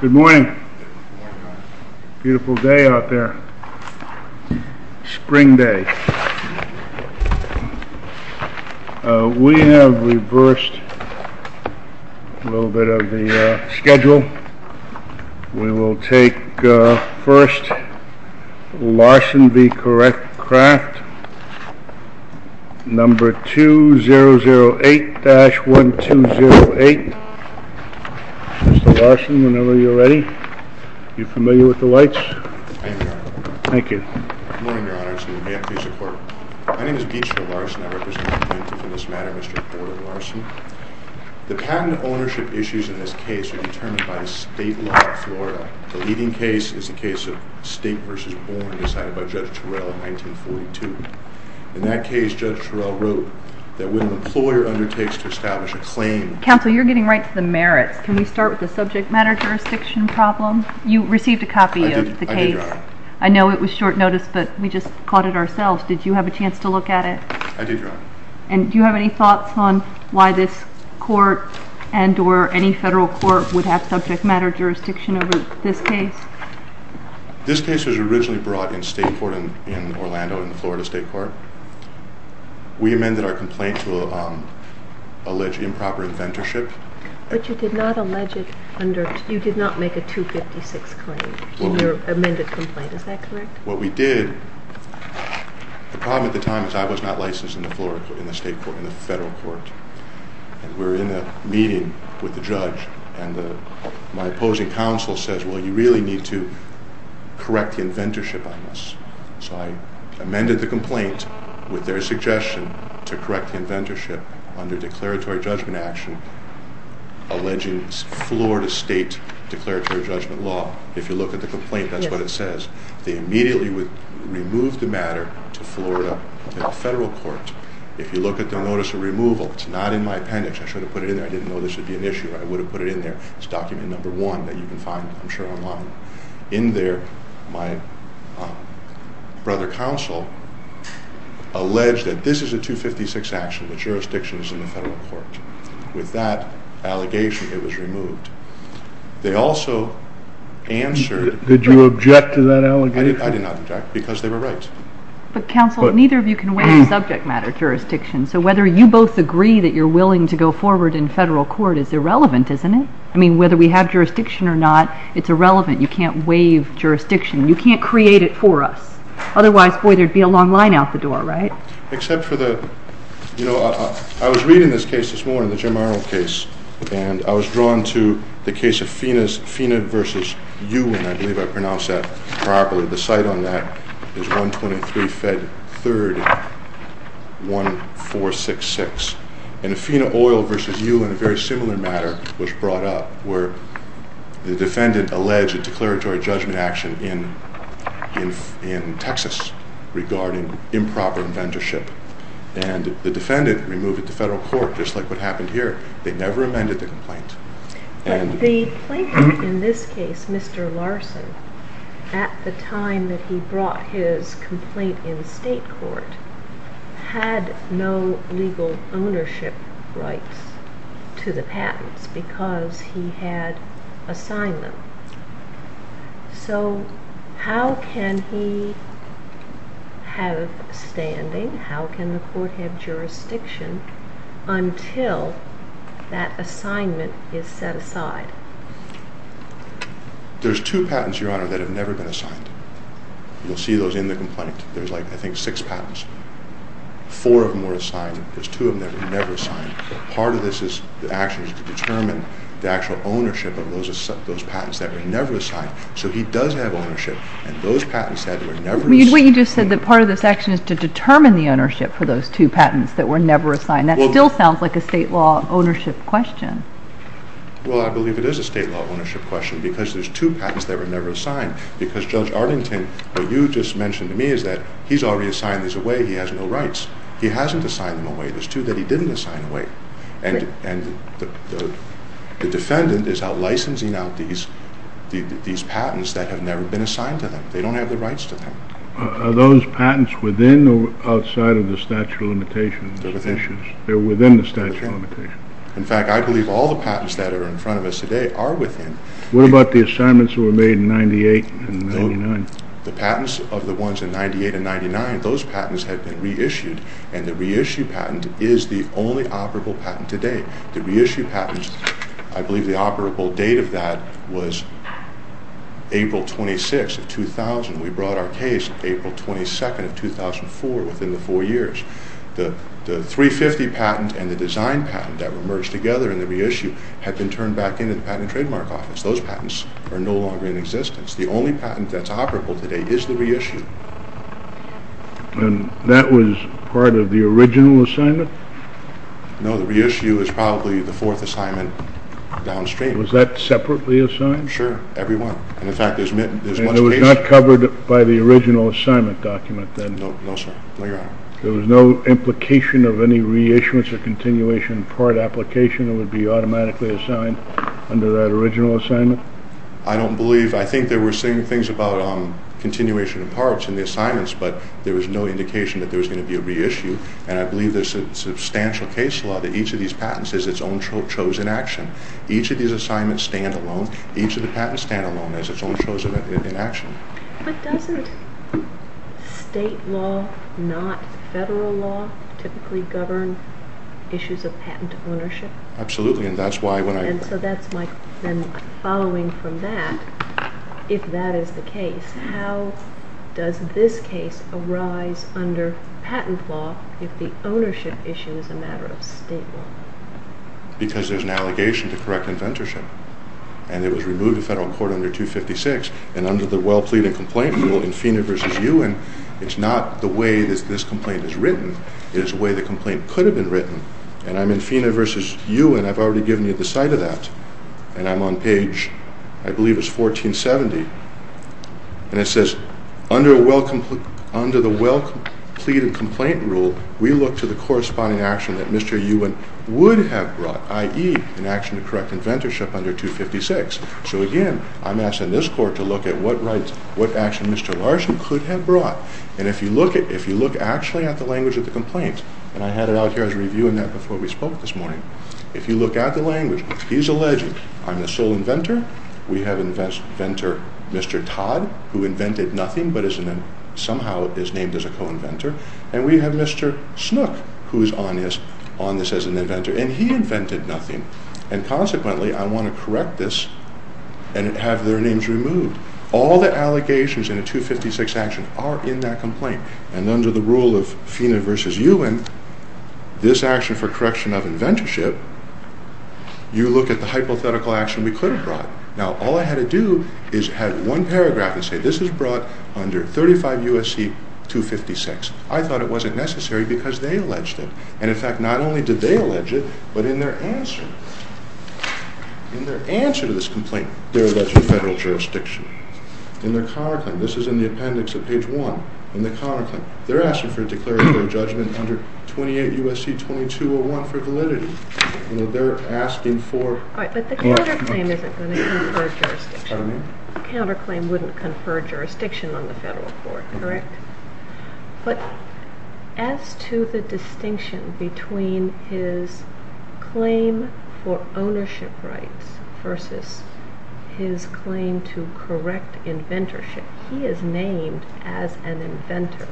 Good morning. Beautiful day out there. Spring day. We have reversed a little bit of the schedule. We will take first Larson v. Correct Craft, number 2008-1208. Mr. Larson, whenever you're ready. Are you familiar with the lights? I am, Your Honor. Thank you. Good morning, Your Honor. Excuse me. May I please report? My name is Beecher Larson. I represent the plaintiff in this matter, Mr. Porter Larson. The patent ownership issues in this case are determined by the state law of Florida. The leading case is the case of State v. Born, decided by Judge Turell in 1942. In that case, Judge Turell wrote that when an employer undertakes to establish a claim... Counsel, you're getting right to the merits. Can we start with the subject matter jurisdiction problem? You received a copy of the case. I did, Your Honor. I know it was short notice, but we just caught it ourselves. Did you have a chance to look at it? I did, Your Honor. And do you have any thoughts on why this court and or any federal court would have subject matter jurisdiction over this case? This case was originally brought in state court in Orlando, in the Florida state court. We amended our complaint to allege improper inventorship. But you did not make a 256 claim in your amended complaint. Is that correct? What we did... The problem at the time is I was not licensed in the state court, in the federal court. And we were in a meeting with the judge, and my opposing counsel says, well, you really need to correct the inventorship on this. So I amended the complaint with their suggestion to correct the inventorship under declaratory judgment action, alleging Florida state declaratory judgment law. If you look at the complaint, that's what it says. They immediately removed the matter to Florida federal court. If you look at the notice of removal, it's not in my appendix. I should have put it in there. I didn't know this would be an issue. I would have put it in there. It's document number one that you can find, I'm sure, online. In there, my brother counsel alleged that this is a 256 action. The jurisdiction is in the federal court. With that allegation, it was removed. They also answered... Did you object to that allegation? I did not object, because they were right. But counsel, neither of you can weigh subject matter jurisdiction. So whether you both agree that you're willing to go forward in federal court is irrelevant, isn't it? I mean, whether we have jurisdiction or not, it's irrelevant. You can't weigh jurisdiction. You can't create it for us. Otherwise, boy, there'd be a long line out the door, right? Except for the... You know, I was reading this case this morning, the Jim Arnold case. And I was drawn to the case of FINA versus UIN. I believe I pronounced that properly. The site on that is 123 Fed 3rd, 1466. And a FINA oil versus UIN, a very similar matter, was brought up, where the defendant alleged a declaratory judgment action in Texas regarding improper inventorship. And the defendant removed it to federal court, just like what happened here. They never amended the complaint. The plaintiff in this case, Mr. Larson, at the time that he brought his complaint in state court, had no legal ownership rights to the patents, because he had assigned them. So how can he have standing? How can the court have jurisdiction until that assignment is set aside? There's two patents, Your Honor, that have never been assigned. You'll see those in the complaint. There's like, I think, six patents. Four of them were assigned. There's two of them that were never assigned. Part of this action is to determine the actual ownership of those patents that were never assigned. So he does have ownership, and those patents that were never assigned— But you just said that part of this action is to determine the ownership for those two patents that were never assigned. That still sounds like a state law ownership question. Well, I believe it is a state law ownership question, because there's two patents that were never assigned. Because Judge Arlington, what you just mentioned to me is that he's already assigned these away. He has no rights. He hasn't assigned them away. And the defendant is outlicensing out these patents that have never been assigned to them. They don't have the rights to them. Are those patents within or outside of the statute of limitations? They're within. They're within the statute of limitations. In fact, I believe all the patents that are in front of us today are within. What about the assignments that were made in 1998 and 1999? The patents of the ones in 1998 and 1999, those patents had been reissued, and the reissue patent is the only operable patent today. The reissue patents, I believe the operable date of that was April 26, 2000. We brought our case April 22, 2004, within the four years. The 350 patent and the design patent that were merged together in the reissue had been turned back into the Patent and Trademark Office. Those patents are no longer in existence. The only patent that's operable today is the reissue. And that was part of the original assignment? No, the reissue is probably the fourth assignment downstream. Was that separately assigned? Sure, every one. And it was not covered by the original assignment document then? No, sir. No, Your Honor. There was no implication of any reissuance or continuation part application that would be automatically assigned under that original assignment? I don't believe. I think they were saying things about continuation of parts in the assignments, but there was no indication that there was going to be a reissue. And I believe there's a substantial case law that each of these patents is its own chosen action. Each of these assignments stand alone. Each of the patents stand alone as its own chosen action. But doesn't state law, not federal law, typically govern issues of patent ownership? Absolutely, and that's why when I… So that's my following from that, if that is the case. How does this case arise under patent law if the ownership issue is a matter of state law? Because there's an allegation to correct inventorship, and it was removed in federal court under 256, and under the well-pleaded complaint rule, Infina v. Ewan, it's not the way that this complaint is written. It is the way the complaint could have been written. And I'm in Infina v. Ewan. I've already given you the site of that. And I'm on page, I believe it's 1470. And it says, under the well-pleaded complaint rule, we look to the corresponding action that Mr. Ewan would have brought, i.e., an action to correct inventorship under 256. So again, I'm asking this court to look at what action Mr. Larson could have brought. And if you look actually at the language of the complaint, and I had it out here. I was reviewing that before we spoke this morning. If you look at the language, he's alleging, I'm the sole inventor. We have inventor Mr. Todd, who invented nothing, but somehow is named as a co-inventor. And we have Mr. Snook, who is on this as an inventor. And he invented nothing. And consequently, I want to correct this and have their names removed. All the allegations in a 256 action are in that complaint. And under the rule of Feeney v. Ewan, this action for correction of inventorship, you look at the hypothetical action we could have brought. Now, all I had to do is add one paragraph and say, this is brought under 35 U.S.C. 256. I thought it wasn't necessary because they alleged it. And in fact, not only did they allege it, but in their answer, in their answer to this complaint, they're alleging federal jurisdiction. In their counterclaim, this is in the appendix of page 1. In their counterclaim, they're asking for a declaratory judgment under 28 U.S.C. 2201 for validity. They're asking for... But the counterclaim isn't going to confer jurisdiction. The counterclaim wouldn't confer jurisdiction on the federal court, correct? But as to the distinction between his claim for ownership rights versus his claim to correct inventorship, he is named as an inventor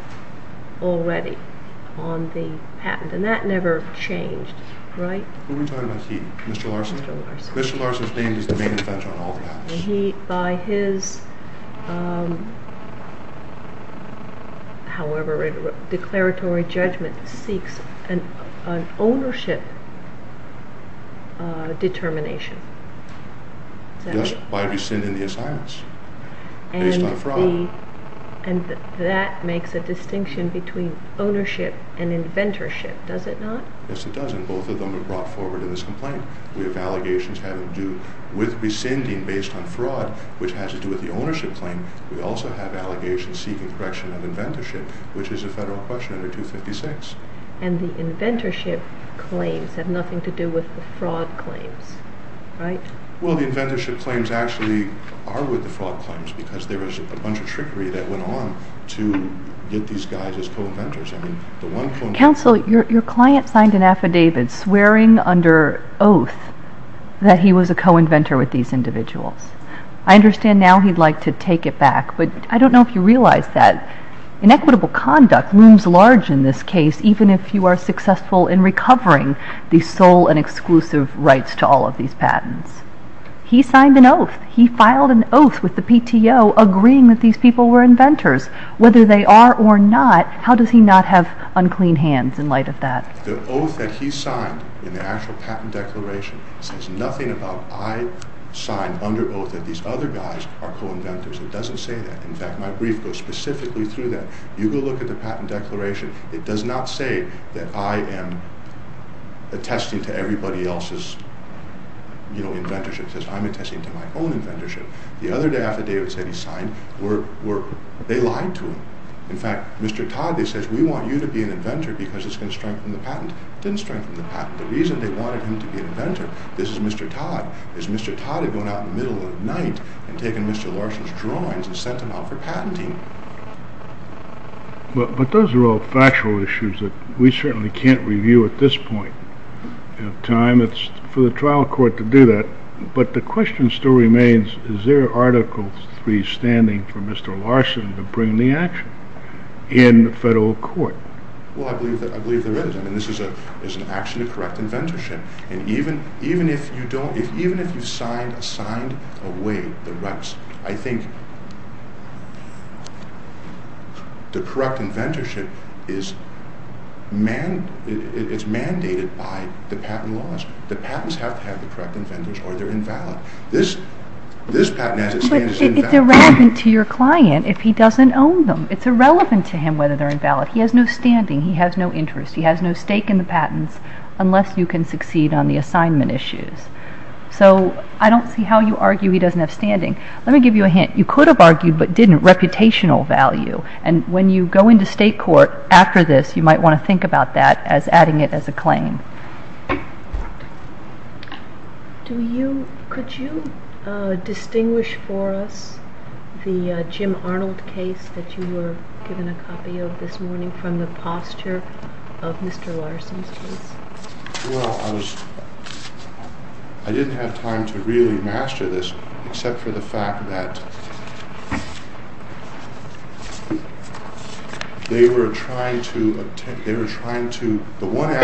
already on the patent. And that never changed, right? Who are we talking about here? Mr. Larson? Mr. Larson. Mr. Larson's name is the main inventor on all the patents. He, by his, however declaratory judgment, seeks an ownership determination. Just by rescinding the assignments based on fraud. And that makes a distinction between ownership and inventorship, does it not? Yes, it does, and both of them are brought forward in this complaint. We have allegations having to do with rescinding based on fraud, which has to do with the ownership claim. We also have allegations seeking correction of inventorship, which is a federal question under 256. And the inventorship claims have nothing to do with the fraud claims, right? Well, the inventorship claims actually are with the fraud claims because there was a bunch of trickery that went on to get these guys as co-inventors. Counsel, your client signed an affidavit swearing under oath that he was a co-inventor with these individuals. I understand now he'd like to take it back, but I don't know if you realize that inequitable conduct looms large in this case, even if you are successful in recovering the sole and exclusive rights to all of these patents. He signed an oath. He filed an oath with the PTO agreeing that these people were inventors. Whether they are or not, how does he not have unclean hands in light of that? The oath that he signed in the actual patent declaration says nothing about I signed under oath that these other guys are co-inventors. It doesn't say that. In fact, my brief goes specifically through that. You go look at the patent declaration. It does not say that I am attesting to everybody else's inventorship. It says I'm attesting to my own inventorship. The other affidavit that he signed, they lied to him. In fact, Mr. Todd, they said, we want you to be an inventor because it's going to strengthen the patent. It didn't strengthen the patent. The reason they wanted him to be an inventor, this is Mr. Todd, is Mr. Todd had gone out in the middle of the night and taken Mr. Larson's drawings and sent them out for patenting. But those are all factual issues that we certainly can't review at this point in time. It's for the trial court to do that. But the question still remains, is there Article III standing for Mr. Larson to bring the action in the federal court? Well, I believe there is. I mean, this is an action to correct inventorship. And even if you signed away the reps, I think the correct inventorship is mandated by the patent laws. The patents have to have the correct inventors or they're invalid. This patent has its standards invalid. But it's irrelevant to your client if he doesn't own them. It's irrelevant to him whether they're invalid. He has no standing. He has no interest. He has no stake in the patents unless you can succeed on the assignment issues. So I don't see how you argue he doesn't have standing. Let me give you a hint. You could have argued but didn't, reputational value. And when you go into state court after this, you might want to think about that as adding it as a claim. Could you distinguish for us the Jim Arnold case that you were given a copy of this morning from the posture of Mr. Larson's case? Well, I didn't have time to really master this except for the fact that they were trying to, the one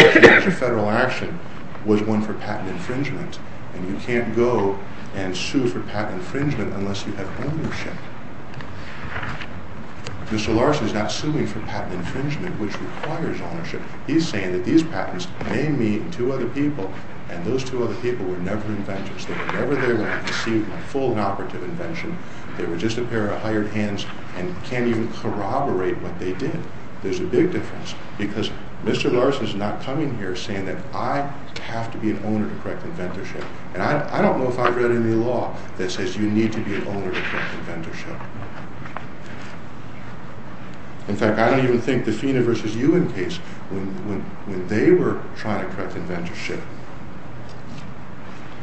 federal action was one for patent infringement. And you can't go and sue for patent infringement unless you have ownership. Mr. Larson's not suing for patent infringement, which requires ownership. He's saying that these patents name me and two other people, and those two other people were never inventors. They were never there when I conceived my full and operative invention. They were just a pair of hired hands and can't even corroborate what they did. There's a big difference because Mr. Larson's not coming here saying that I have to be an owner to correct inventorship. And I don't know if I've read any law that says you need to be an owner to correct inventorship. In fact, I don't even think the FINA v. Ewing case, when they were trying to correct inventorship.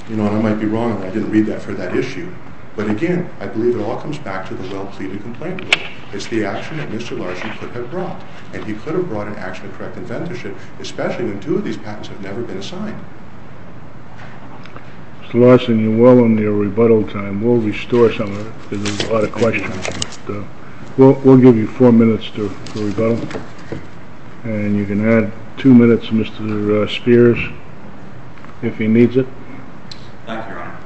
You know, and I might be wrong if I didn't read that for that issue. But again, I believe it all comes back to the well-pleaded complaint rule. It's the action that Mr. Larson could have brought. And he could have brought an action to correct inventorship, especially when two of these patents have never been assigned. Mr. Larson, you're well on your rebuttal time. We'll restore some of it because there's a lot of questions. We'll give you four minutes to rebuttal. And you can add two minutes to Mr. Spears if he needs it. Thank you, Your Honor.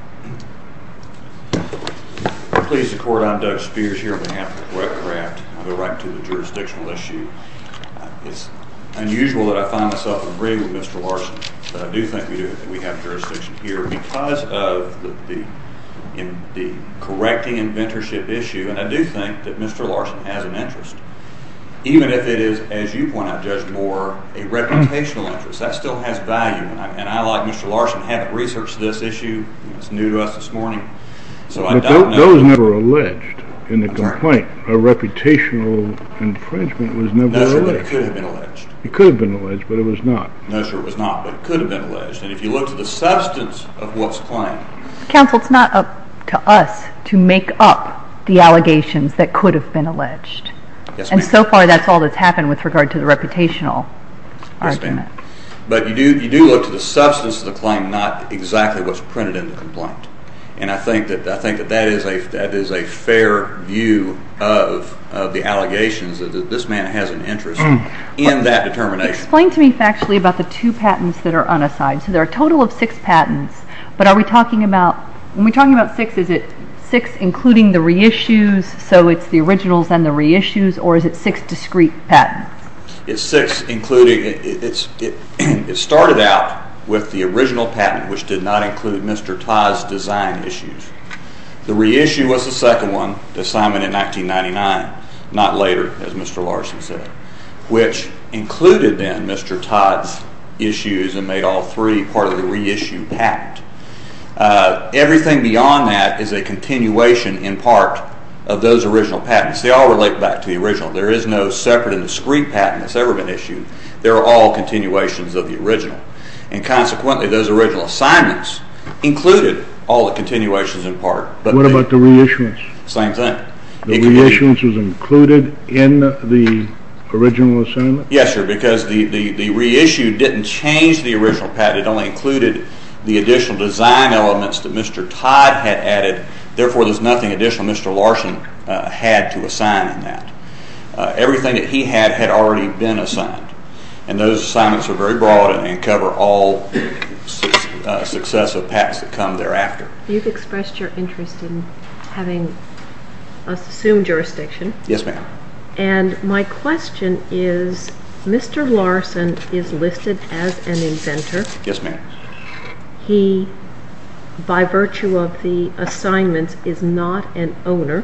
Please support, I'm Doug Spears here on behalf of the correct craft. I'll go right to the jurisdictional issue. It's unusual that I find myself agreeing with Mr. Larson. But I do think that we have jurisdiction here because of the correcting inventorship issue. And I do think that Mr. Larson has an interest, even if it is, as you point out, Judge Moore, a reputational interest. That still has value. And I, like Mr. Larson, haven't researched this issue. It's new to us this morning. But that was never alleged in the complaint. A reputational infringement was never alleged. No, sir, it could have been alleged. It could have been alleged, but it was not. No, sir, it was not, but it could have been alleged. And if you look to the substance of what's claimed. Counsel, it's not up to us to make up the allegations that could have been alleged. Yes, ma'am. And so far that's all that's happened with regard to the reputational argument. Yes, ma'am. But you do look to the substance of the claim, not exactly what's printed in the complaint. And I think that that is a fair view of the allegations that this man has an interest in that determination. Explain to me factually about the two patents that are unassigned. So there are a total of six patents, but are we talking aboutó when we're talking about six, is it six including the reissues, so it's the originals and the reissues, or is it six discrete patents? It's six includingóit started out with the original patent, which did not include Mr. Todd's design issues. The reissue was the second one, the assignment in 1999, not later, as Mr. Larson said, which included then Mr. Todd's issues and made all three part of the reissue patent. Everything beyond that is a continuation in part of those original patents. They all relate back to the original. There is no separate and discrete patent that's ever been issued. They're all continuations of the original, and consequently those original assignments included all the continuations in part. What about the reissuance? Same thing. The reissuance was included in the original assignment? Yes, sir, because the reissue didn't change the original patent. It only included the additional design elements that Mr. Todd had added. Therefore, there's nothing additional Mr. Larson had to assign in that. Everything that he had had already been assigned, and those assignments are very broad and cover all successive patents that come thereafter. You've expressed your interest in having us assume jurisdiction. Yes, ma'am. And my question is, Mr. Larson is listed as an inventor. Yes, ma'am. He, by virtue of the assignments, is not an owner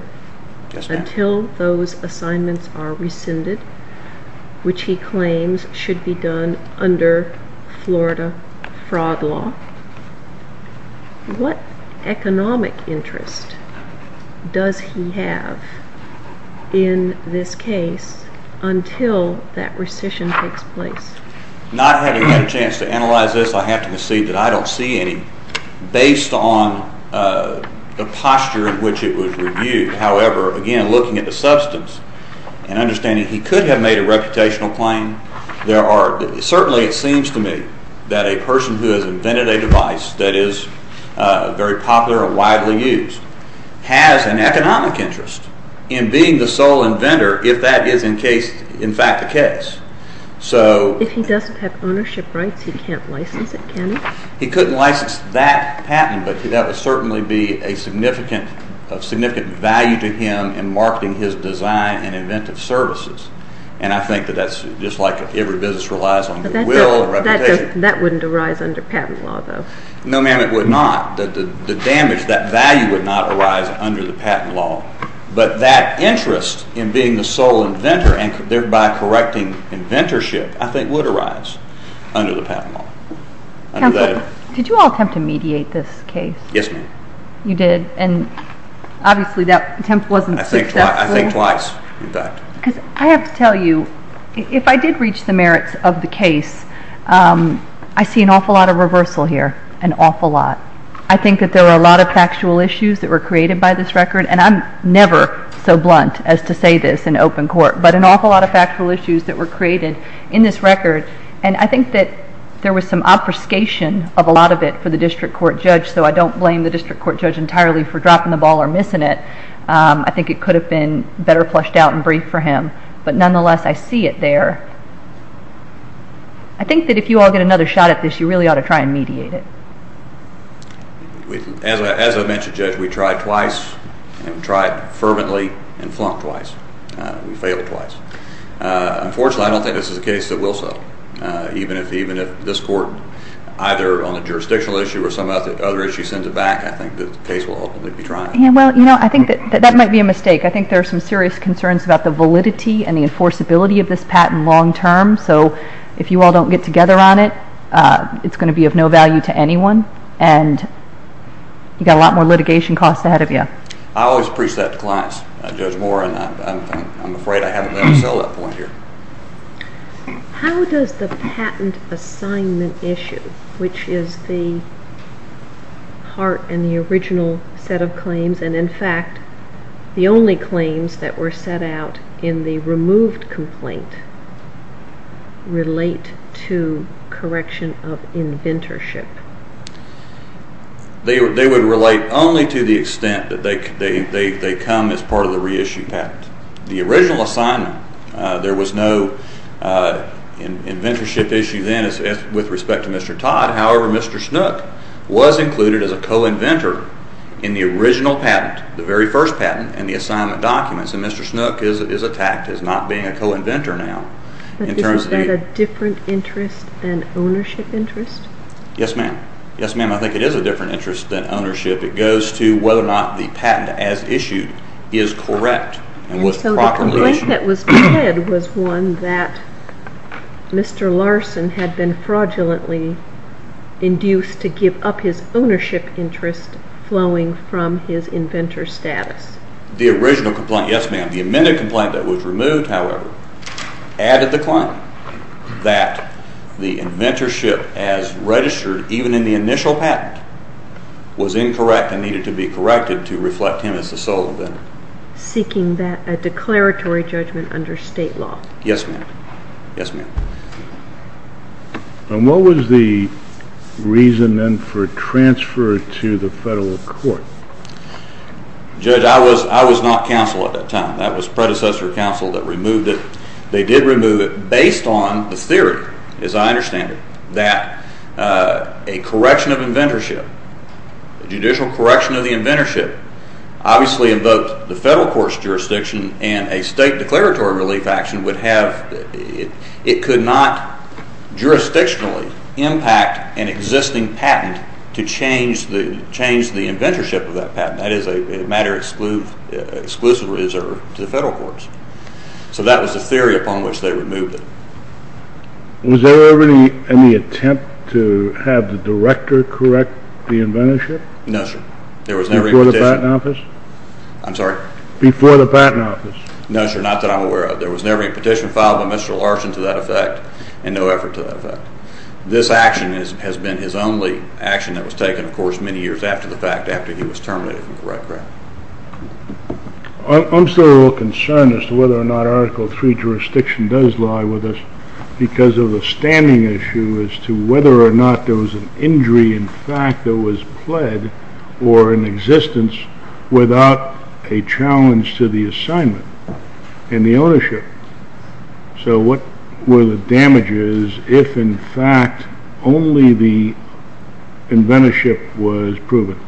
until those assignments are rescinded, which he claims should be done under Florida fraud law. What economic interest does he have in this case until that rescission takes place? Not having had a chance to analyze this, I have to concede that I don't see any. Based on the posture in which it was reviewed, however, again, looking at the substance and understanding he could have made a reputational claim, certainly it seems to me that a person who has invented a device that is very popular and widely used has an economic interest in being the sole inventor if that is in fact the case. If he doesn't have ownership rights, he can't license it, can he? He couldn't license that patent, but that would certainly be of significant value to him in marketing his design and inventive services. And I think that that's just like every business relies on the will and reputation. That wouldn't arise under patent law, though. No, ma'am, it would not. The damage, that value would not arise under the patent law. But that interest in being the sole inventor and thereby correcting inventorship, I think, would arise under the patent law. Counsel, did you all attempt to mediate this case? Yes, ma'am. I think twice, in fact. Because I have to tell you, if I did reach the merits of the case, I see an awful lot of reversal here, an awful lot. I think that there were a lot of factual issues that were created by this record, and I'm never so blunt as to say this in open court, but an awful lot of factual issues that were created in this record, and I think that there was some obfuscation of a lot of it for the district court judge, so I don't blame the district court judge entirely for dropping the ball or missing it. I think it could have been better plushed out and briefed for him, but nonetheless, I see it there. I think that if you all get another shot at this, you really ought to try and mediate it. As I mentioned, Judge, we tried twice, and we tried fervently and flunked twice. We failed twice. Unfortunately, I don't think this is a case that will sell, even if this court, either on the jurisdictional issue or some other issue, sends it back. I think the case will ultimately be trying. That might be a mistake. I think there are some serious concerns about the validity and the enforceability of this patent long term, so if you all don't get together on it, it's going to be of no value to anyone, and you've got a lot more litigation costs ahead of you. I always preach that to clients. I judge more, and I'm afraid I haven't been able to sell that point here. How does the patent assignment issue, which is the part in the original set of claims, and in fact the only claims that were set out in the removed complaint, relate to correction of inventorship? They would relate only to the extent that they come as part of the reissued patent. The original assignment, there was no inventorship issue then with respect to Mr. Todd. However, Mr. Snook was included as a co-inventor in the original patent, the very first patent, and the assignment documents, and Mr. Snook is attacked as not being a co-inventor now. Is that a different interest than ownership interest? Yes, ma'am. Yes, ma'am, I think it is a different interest than ownership. It goes to whether or not the patent as issued is correct, and was properly issued. And so the complaint that was read was one that Mr. Larson had been fraudulently induced to give up his ownership interest flowing from his inventor status. The original complaint, yes, ma'am. The amended complaint that was removed, however, added the claim that the inventorship as registered, even in the initial patent, was incorrect and needed to be corrected to reflect him as the sole inventor. Seeking a declaratory judgment under state law. Yes, ma'am. Yes, ma'am. And what was the reason then for transfer to the federal court? Judge, I was not counsel at that time. That was predecessor counsel that removed it. They did remove it based on the theory, as I understand it, that a correction of inventorship, a judicial correction of the inventorship, obviously invoked the federal court's jurisdiction, and a state declaratory relief action would have, it could not jurisdictionally impact an existing patent to change the inventorship of that patent. That is a matter exclusively reserved to the federal courts. So that was the theory upon which they removed it. Was there ever any attempt to have the director correct the inventorship? No, sir. Before the Patent Office? I'm sorry? Before the Patent Office. No, sir, not that I'm aware of. There was never any petition filed by Mr. Larson to that effect, and no effort to that effect. This action has been his only action that was taken, of course, many years after the fact, after he was terminated from the record. I'm still a little concerned as to whether or not Article III jurisdiction does lie with us because of the standing issue as to whether or not there was an injury in fact that was pled or in existence without a challenge to the assignment and the ownership. So what were the damages if, in fact, only the inventorship was proven?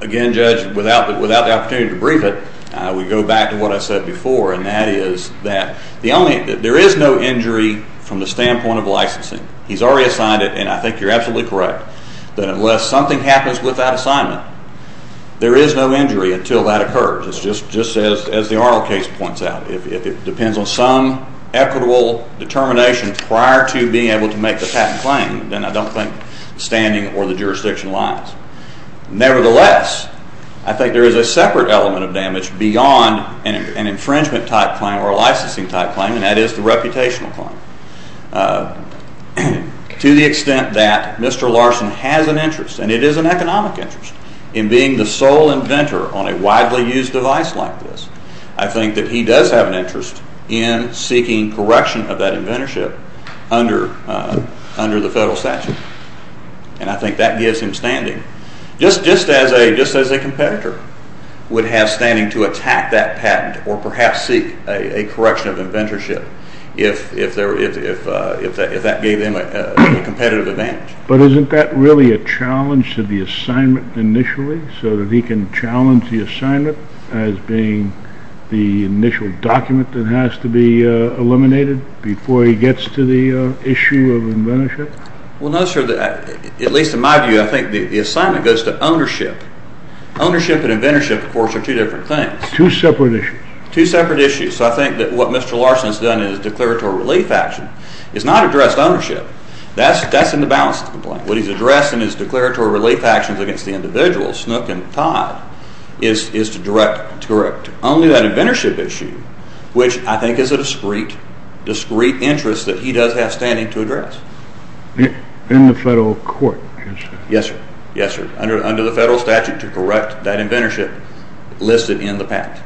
Again, Judge, without the opportunity to brief it, I would go back to what I said before, and that is that there is no injury from the standpoint of licensing. He's already assigned it, and I think you're absolutely correct, that unless something happens without assignment, there is no injury until that occurs. It's just as the Arnold case points out. If it depends on some equitable determination prior to being able to make the patent claim, then I don't think standing or the jurisdiction lies. Nevertheless, I think there is a separate element of damage beyond an infringement-type claim or a licensing-type claim, and that is the reputational claim. To the extent that Mr. Larson has an interest, and it is an economic interest, in being the sole inventor on a widely used device like this, I think that he does have an interest in seeking correction of that inventorship under the federal statute, and I think that gives him standing. Just as a competitor would have standing to attack that patent or perhaps seek a correction of inventorship if that gave him a competitive advantage. But isn't that really a challenge to the assignment initially so that he can challenge the assignment as being the initial document that has to be eliminated before he gets to the issue of inventorship? Well, no, sir. At least in my view, I think the assignment goes to ownership. Ownership and inventorship, of course, are two different things. Two separate issues. Two separate issues. So I think that what Mr. Larson has done in his declaratory relief action is not address ownership. That's in the balance of the complaint. What he's addressed in his declaratory relief actions against the individuals, Snook and Todd, is to correct only that inventorship issue, which I think is a discrete interest that he does have standing to address. In the federal court, you said? Yes, sir. Yes, sir. Under the federal statute to correct that inventorship listed in the patent.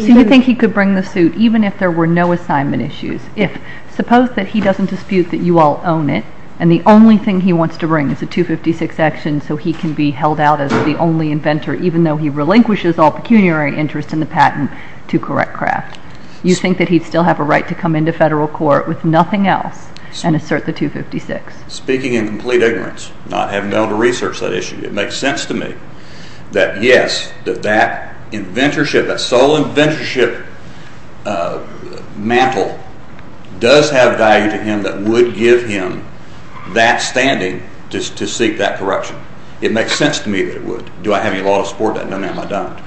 So you think he could bring the suit even if there were no assignment issues? Suppose that he doesn't dispute that you all own it and the only thing he wants to bring is a 256 action so he can be held out as the only inventor even though he relinquishes all pecuniary interest in the patent to correct Kraft. You think that he'd still have a right to come into federal court with nothing else and assert the 256? Speaking in complete ignorance, not having been able to research that issue. It makes sense to me that yes, that that inventorship, that sole inventorship mantle does have value to him that would give him that standing to seek that correction. It makes sense to me that it would. Do I have any law to support that? No, ma'am, I don't.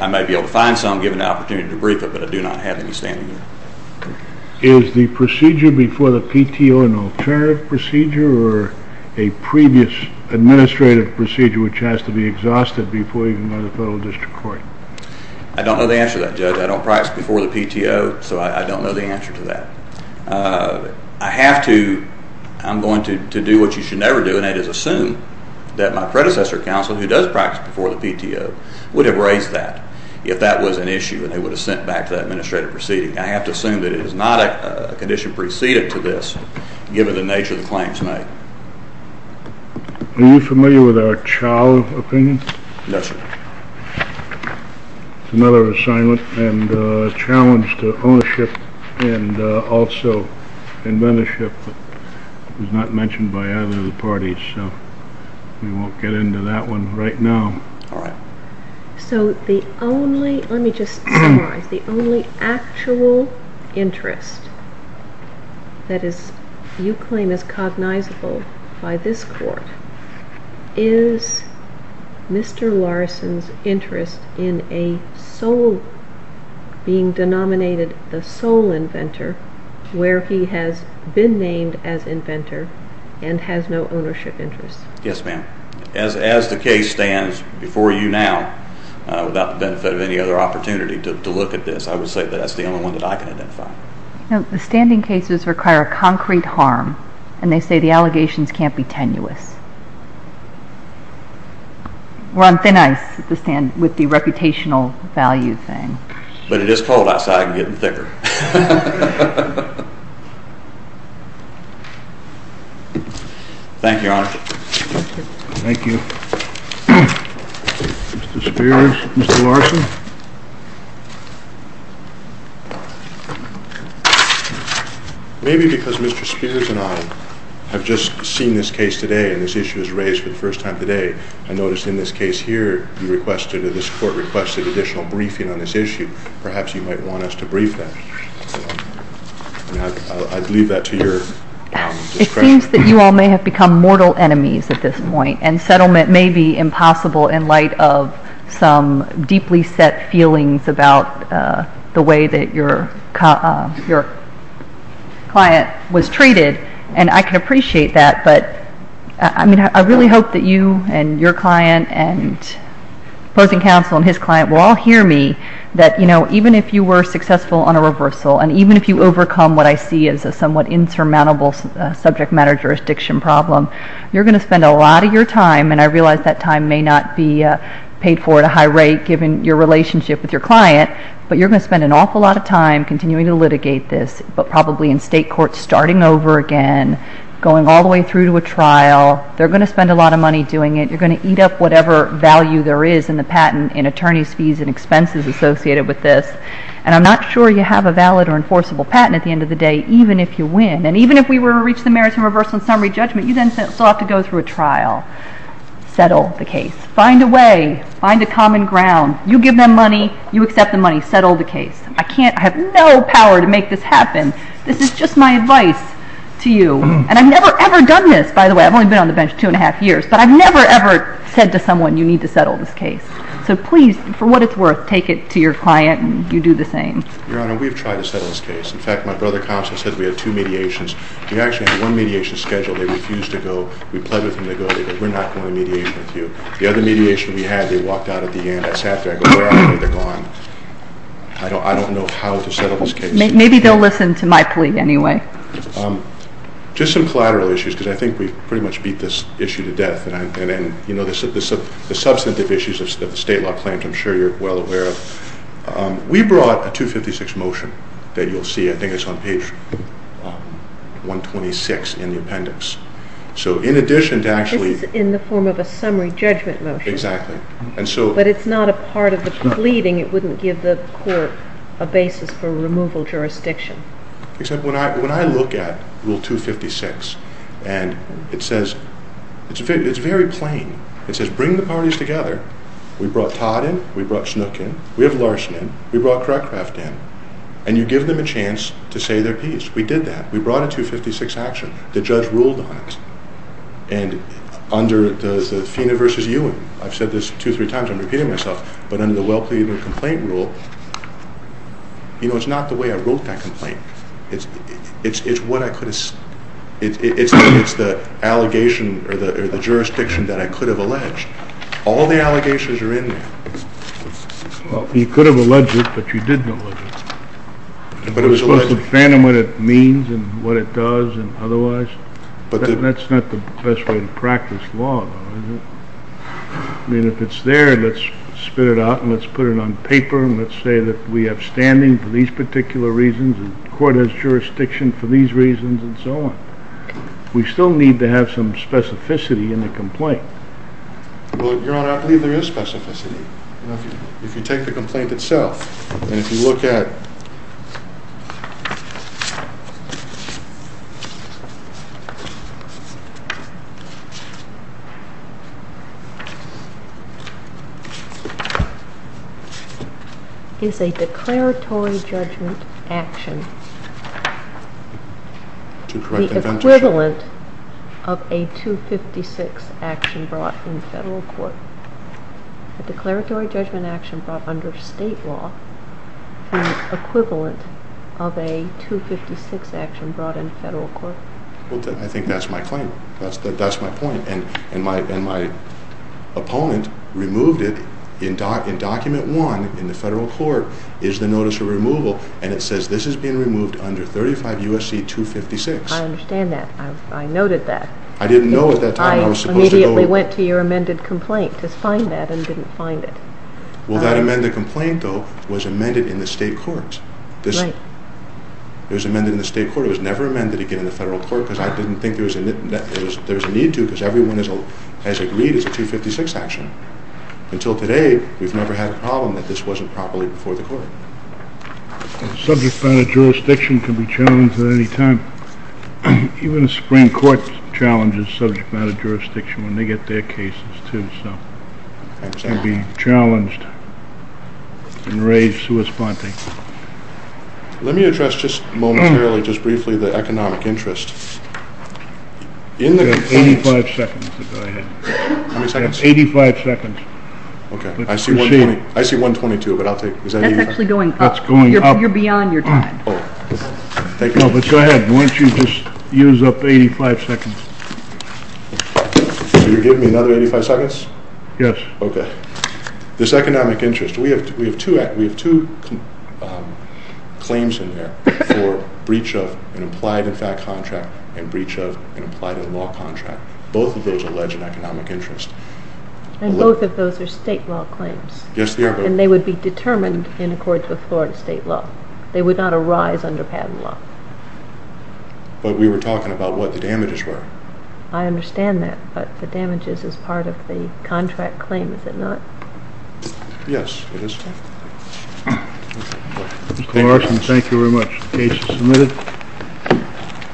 I may be able to find some, give an opportunity to brief it, but I do not have any standing there. Is the procedure before the PTO an alternative procedure or a previous administrative procedure which has to be exhausted before you can go to the federal district court? I don't know the answer to that, Judge. I don't practice before the PTO, so I don't know the answer to that. I have to, I'm going to do what you should never do and that is assume that my predecessor counsel who does practice before the PTO would have raised that if that was an issue and they would have sent it back to the administrative proceeding. I have to assume that it is not a condition preceded to this given the nature of the claims made. Are you familiar with our chow opinion? Yes, sir. It's another assignment and challenge to ownership and also inventorship that was not mentioned by other parties, so we won't get into that one right now. All right. So the only, let me just summarize, the only actual interest that you claim is cognizable by this court is Mr. Larson's interest in a sole, being denominated the sole inventor where he has been named as inventor and has no ownership interest. Yes, ma'am. As the case stands before you now, without the benefit of any other opportunity to look at this, I would say that that's the only one that I can identify. The standing cases require a concrete harm and they say the allegations can't be tenuous. We're on thin ice with the reputational value thing. But it is cold outside and getting thicker. Thank you, Your Honor. Thank you. Mr. Spears, Mr. Larson. Maybe because Mr. Spears and I have just seen this case today and this issue was raised for the first time today, I noticed in this case here you requested, or this court requested additional briefing on this issue. Perhaps you might want us to brief that. I'd leave that to your discretion. It seems that you all may have become mortal enemies at this point and settlement may be impossible in light of some deeply set feelings about the way that your client was treated, and I can appreciate that. But I really hope that you and your client and opposing counsel and his client will all hear me that even if you were successful on a reversal and even if you overcome what I see as a somewhat insurmountable subject matter jurisdiction problem, you're going to spend a lot of your time, and I realize that time may not be paid for at a high rate given your relationship with your client, but you're going to spend an awful lot of time continuing to litigate this, but probably in state courts starting over again, going all the way through to a trial. They're going to spend a lot of money doing it. You're going to eat up whatever value there is in the patent in attorneys' fees and expenses associated with this. And I'm not sure you have a valid or enforceable patent at the end of the day, even if you win. And even if we were to reach the merits of reversal and summary judgment, you then still have to go through a trial. Settle the case. Find a way. Find a common ground. You give them money. You accept the money. Settle the case. I have no power to make this happen. This is just my advice to you. And I've never, ever done this, by the way. I've only been on the bench two and a half years, but I've never, ever said to someone you need to settle this case. So please, for what it's worth, take it to your client and you do the same. Your Honor, we've tried to settle this case. In fact, my brother, Thompson, said we had two mediations. We actually had one mediation scheduled. They refused to go. We pled with them to go. They said, We're not going to mediate with you. The other mediation we had, they walked out at the end. I sat there. I go, Where are they? They're gone. I don't know how to settle this case. Just some collateral issues, because I think we pretty much beat this issue to death. The substantive issues of the state law claims, I'm sure you're well aware of. We brought a 256 motion that you'll see. I think it's on page 126 in the appendix. So in addition to actually... This is in the form of a summary judgment motion. Exactly. But it's not a part of the pleading. It wouldn't give the court a basis for removal jurisdiction. Except when I look at Rule 256, and it says... It's very plain. It says, Bring the parties together. We brought Todd in. We brought Snook in. We have Larson in. We brought Crockraft in. And you give them a chance to say their piece. We did that. We brought a 256 action. The judge ruled on it. And under the Feena v. Ewing, I've said this two or three times. I'm repeating myself. But under the well-pleaded complaint rule, you know, it's not the way I wrote that complaint. It's what I could have... It's the allegation or the jurisdiction that I could have alleged. All the allegations are in there. Well, you could have alleged it, but you didn't allege it. But it was supposed to... You're supposed to understand what it means and what it does and otherwise. That's not the best way to practice law, though, is it? I mean, if it's there, let's spit it out, and let's put it on paper, and let's say that we have standing for these particular reasons, and the court has jurisdiction for these reasons, and so on. We still need to have some specificity in the complaint. Well, Your Honor, I believe there is specificity. If you take the complaint itself, and if you look at it... It's a declaratory judgment action. The equivalent of a 256 action brought in federal court. A declaratory judgment action brought under state law is equivalent of a 256 action brought in federal court. I think that's my claim. That's my point. And my opponent removed it in Document 1 in the federal court, is the notice of removal, and it says this is being removed under 35 U.S.C. 256. I understand that. I noted that. I didn't know at that time I was supposed to go... You immediately went to your amended complaint to find that, and didn't find it. Well, that amended complaint, though, was amended in the state courts. Right. It was amended in the state court. It was never amended again in the federal court, because I didn't think there was a need to, because everyone has agreed it's a 256 action. Until today, we've never had a problem that this wasn't properly before the court. Subject matter jurisdiction can be challenged at any time. Even the Supreme Court challenges subject matter jurisdiction when they get their cases, too, so it can be challenged and raised corresponding. Let me address just momentarily, just briefly, the economic interest. In the case... You have 85 seconds to go ahead. How many seconds? You have 85 seconds. Okay. I see 122, but I'll take... That's actually going up. That's going up. You're beyond your time. No, but go ahead. Why don't you just use up 85 seconds? So you're giving me another 85 seconds? Yes. Okay. This economic interest, we have two claims in there for breach of an implied in fact contract and breach of an implied in law contract. Both of those allege an economic interest. And both of those are state law claims. Yes, they are. And they would be determined in accordance with Florida state law. They would not arise under patent law. But we were talking about what the damages were. I understand that, but the damages is part of the contract claim, is it not? Yes, it is. Mr. Carson, thank you very much. The case is submitted.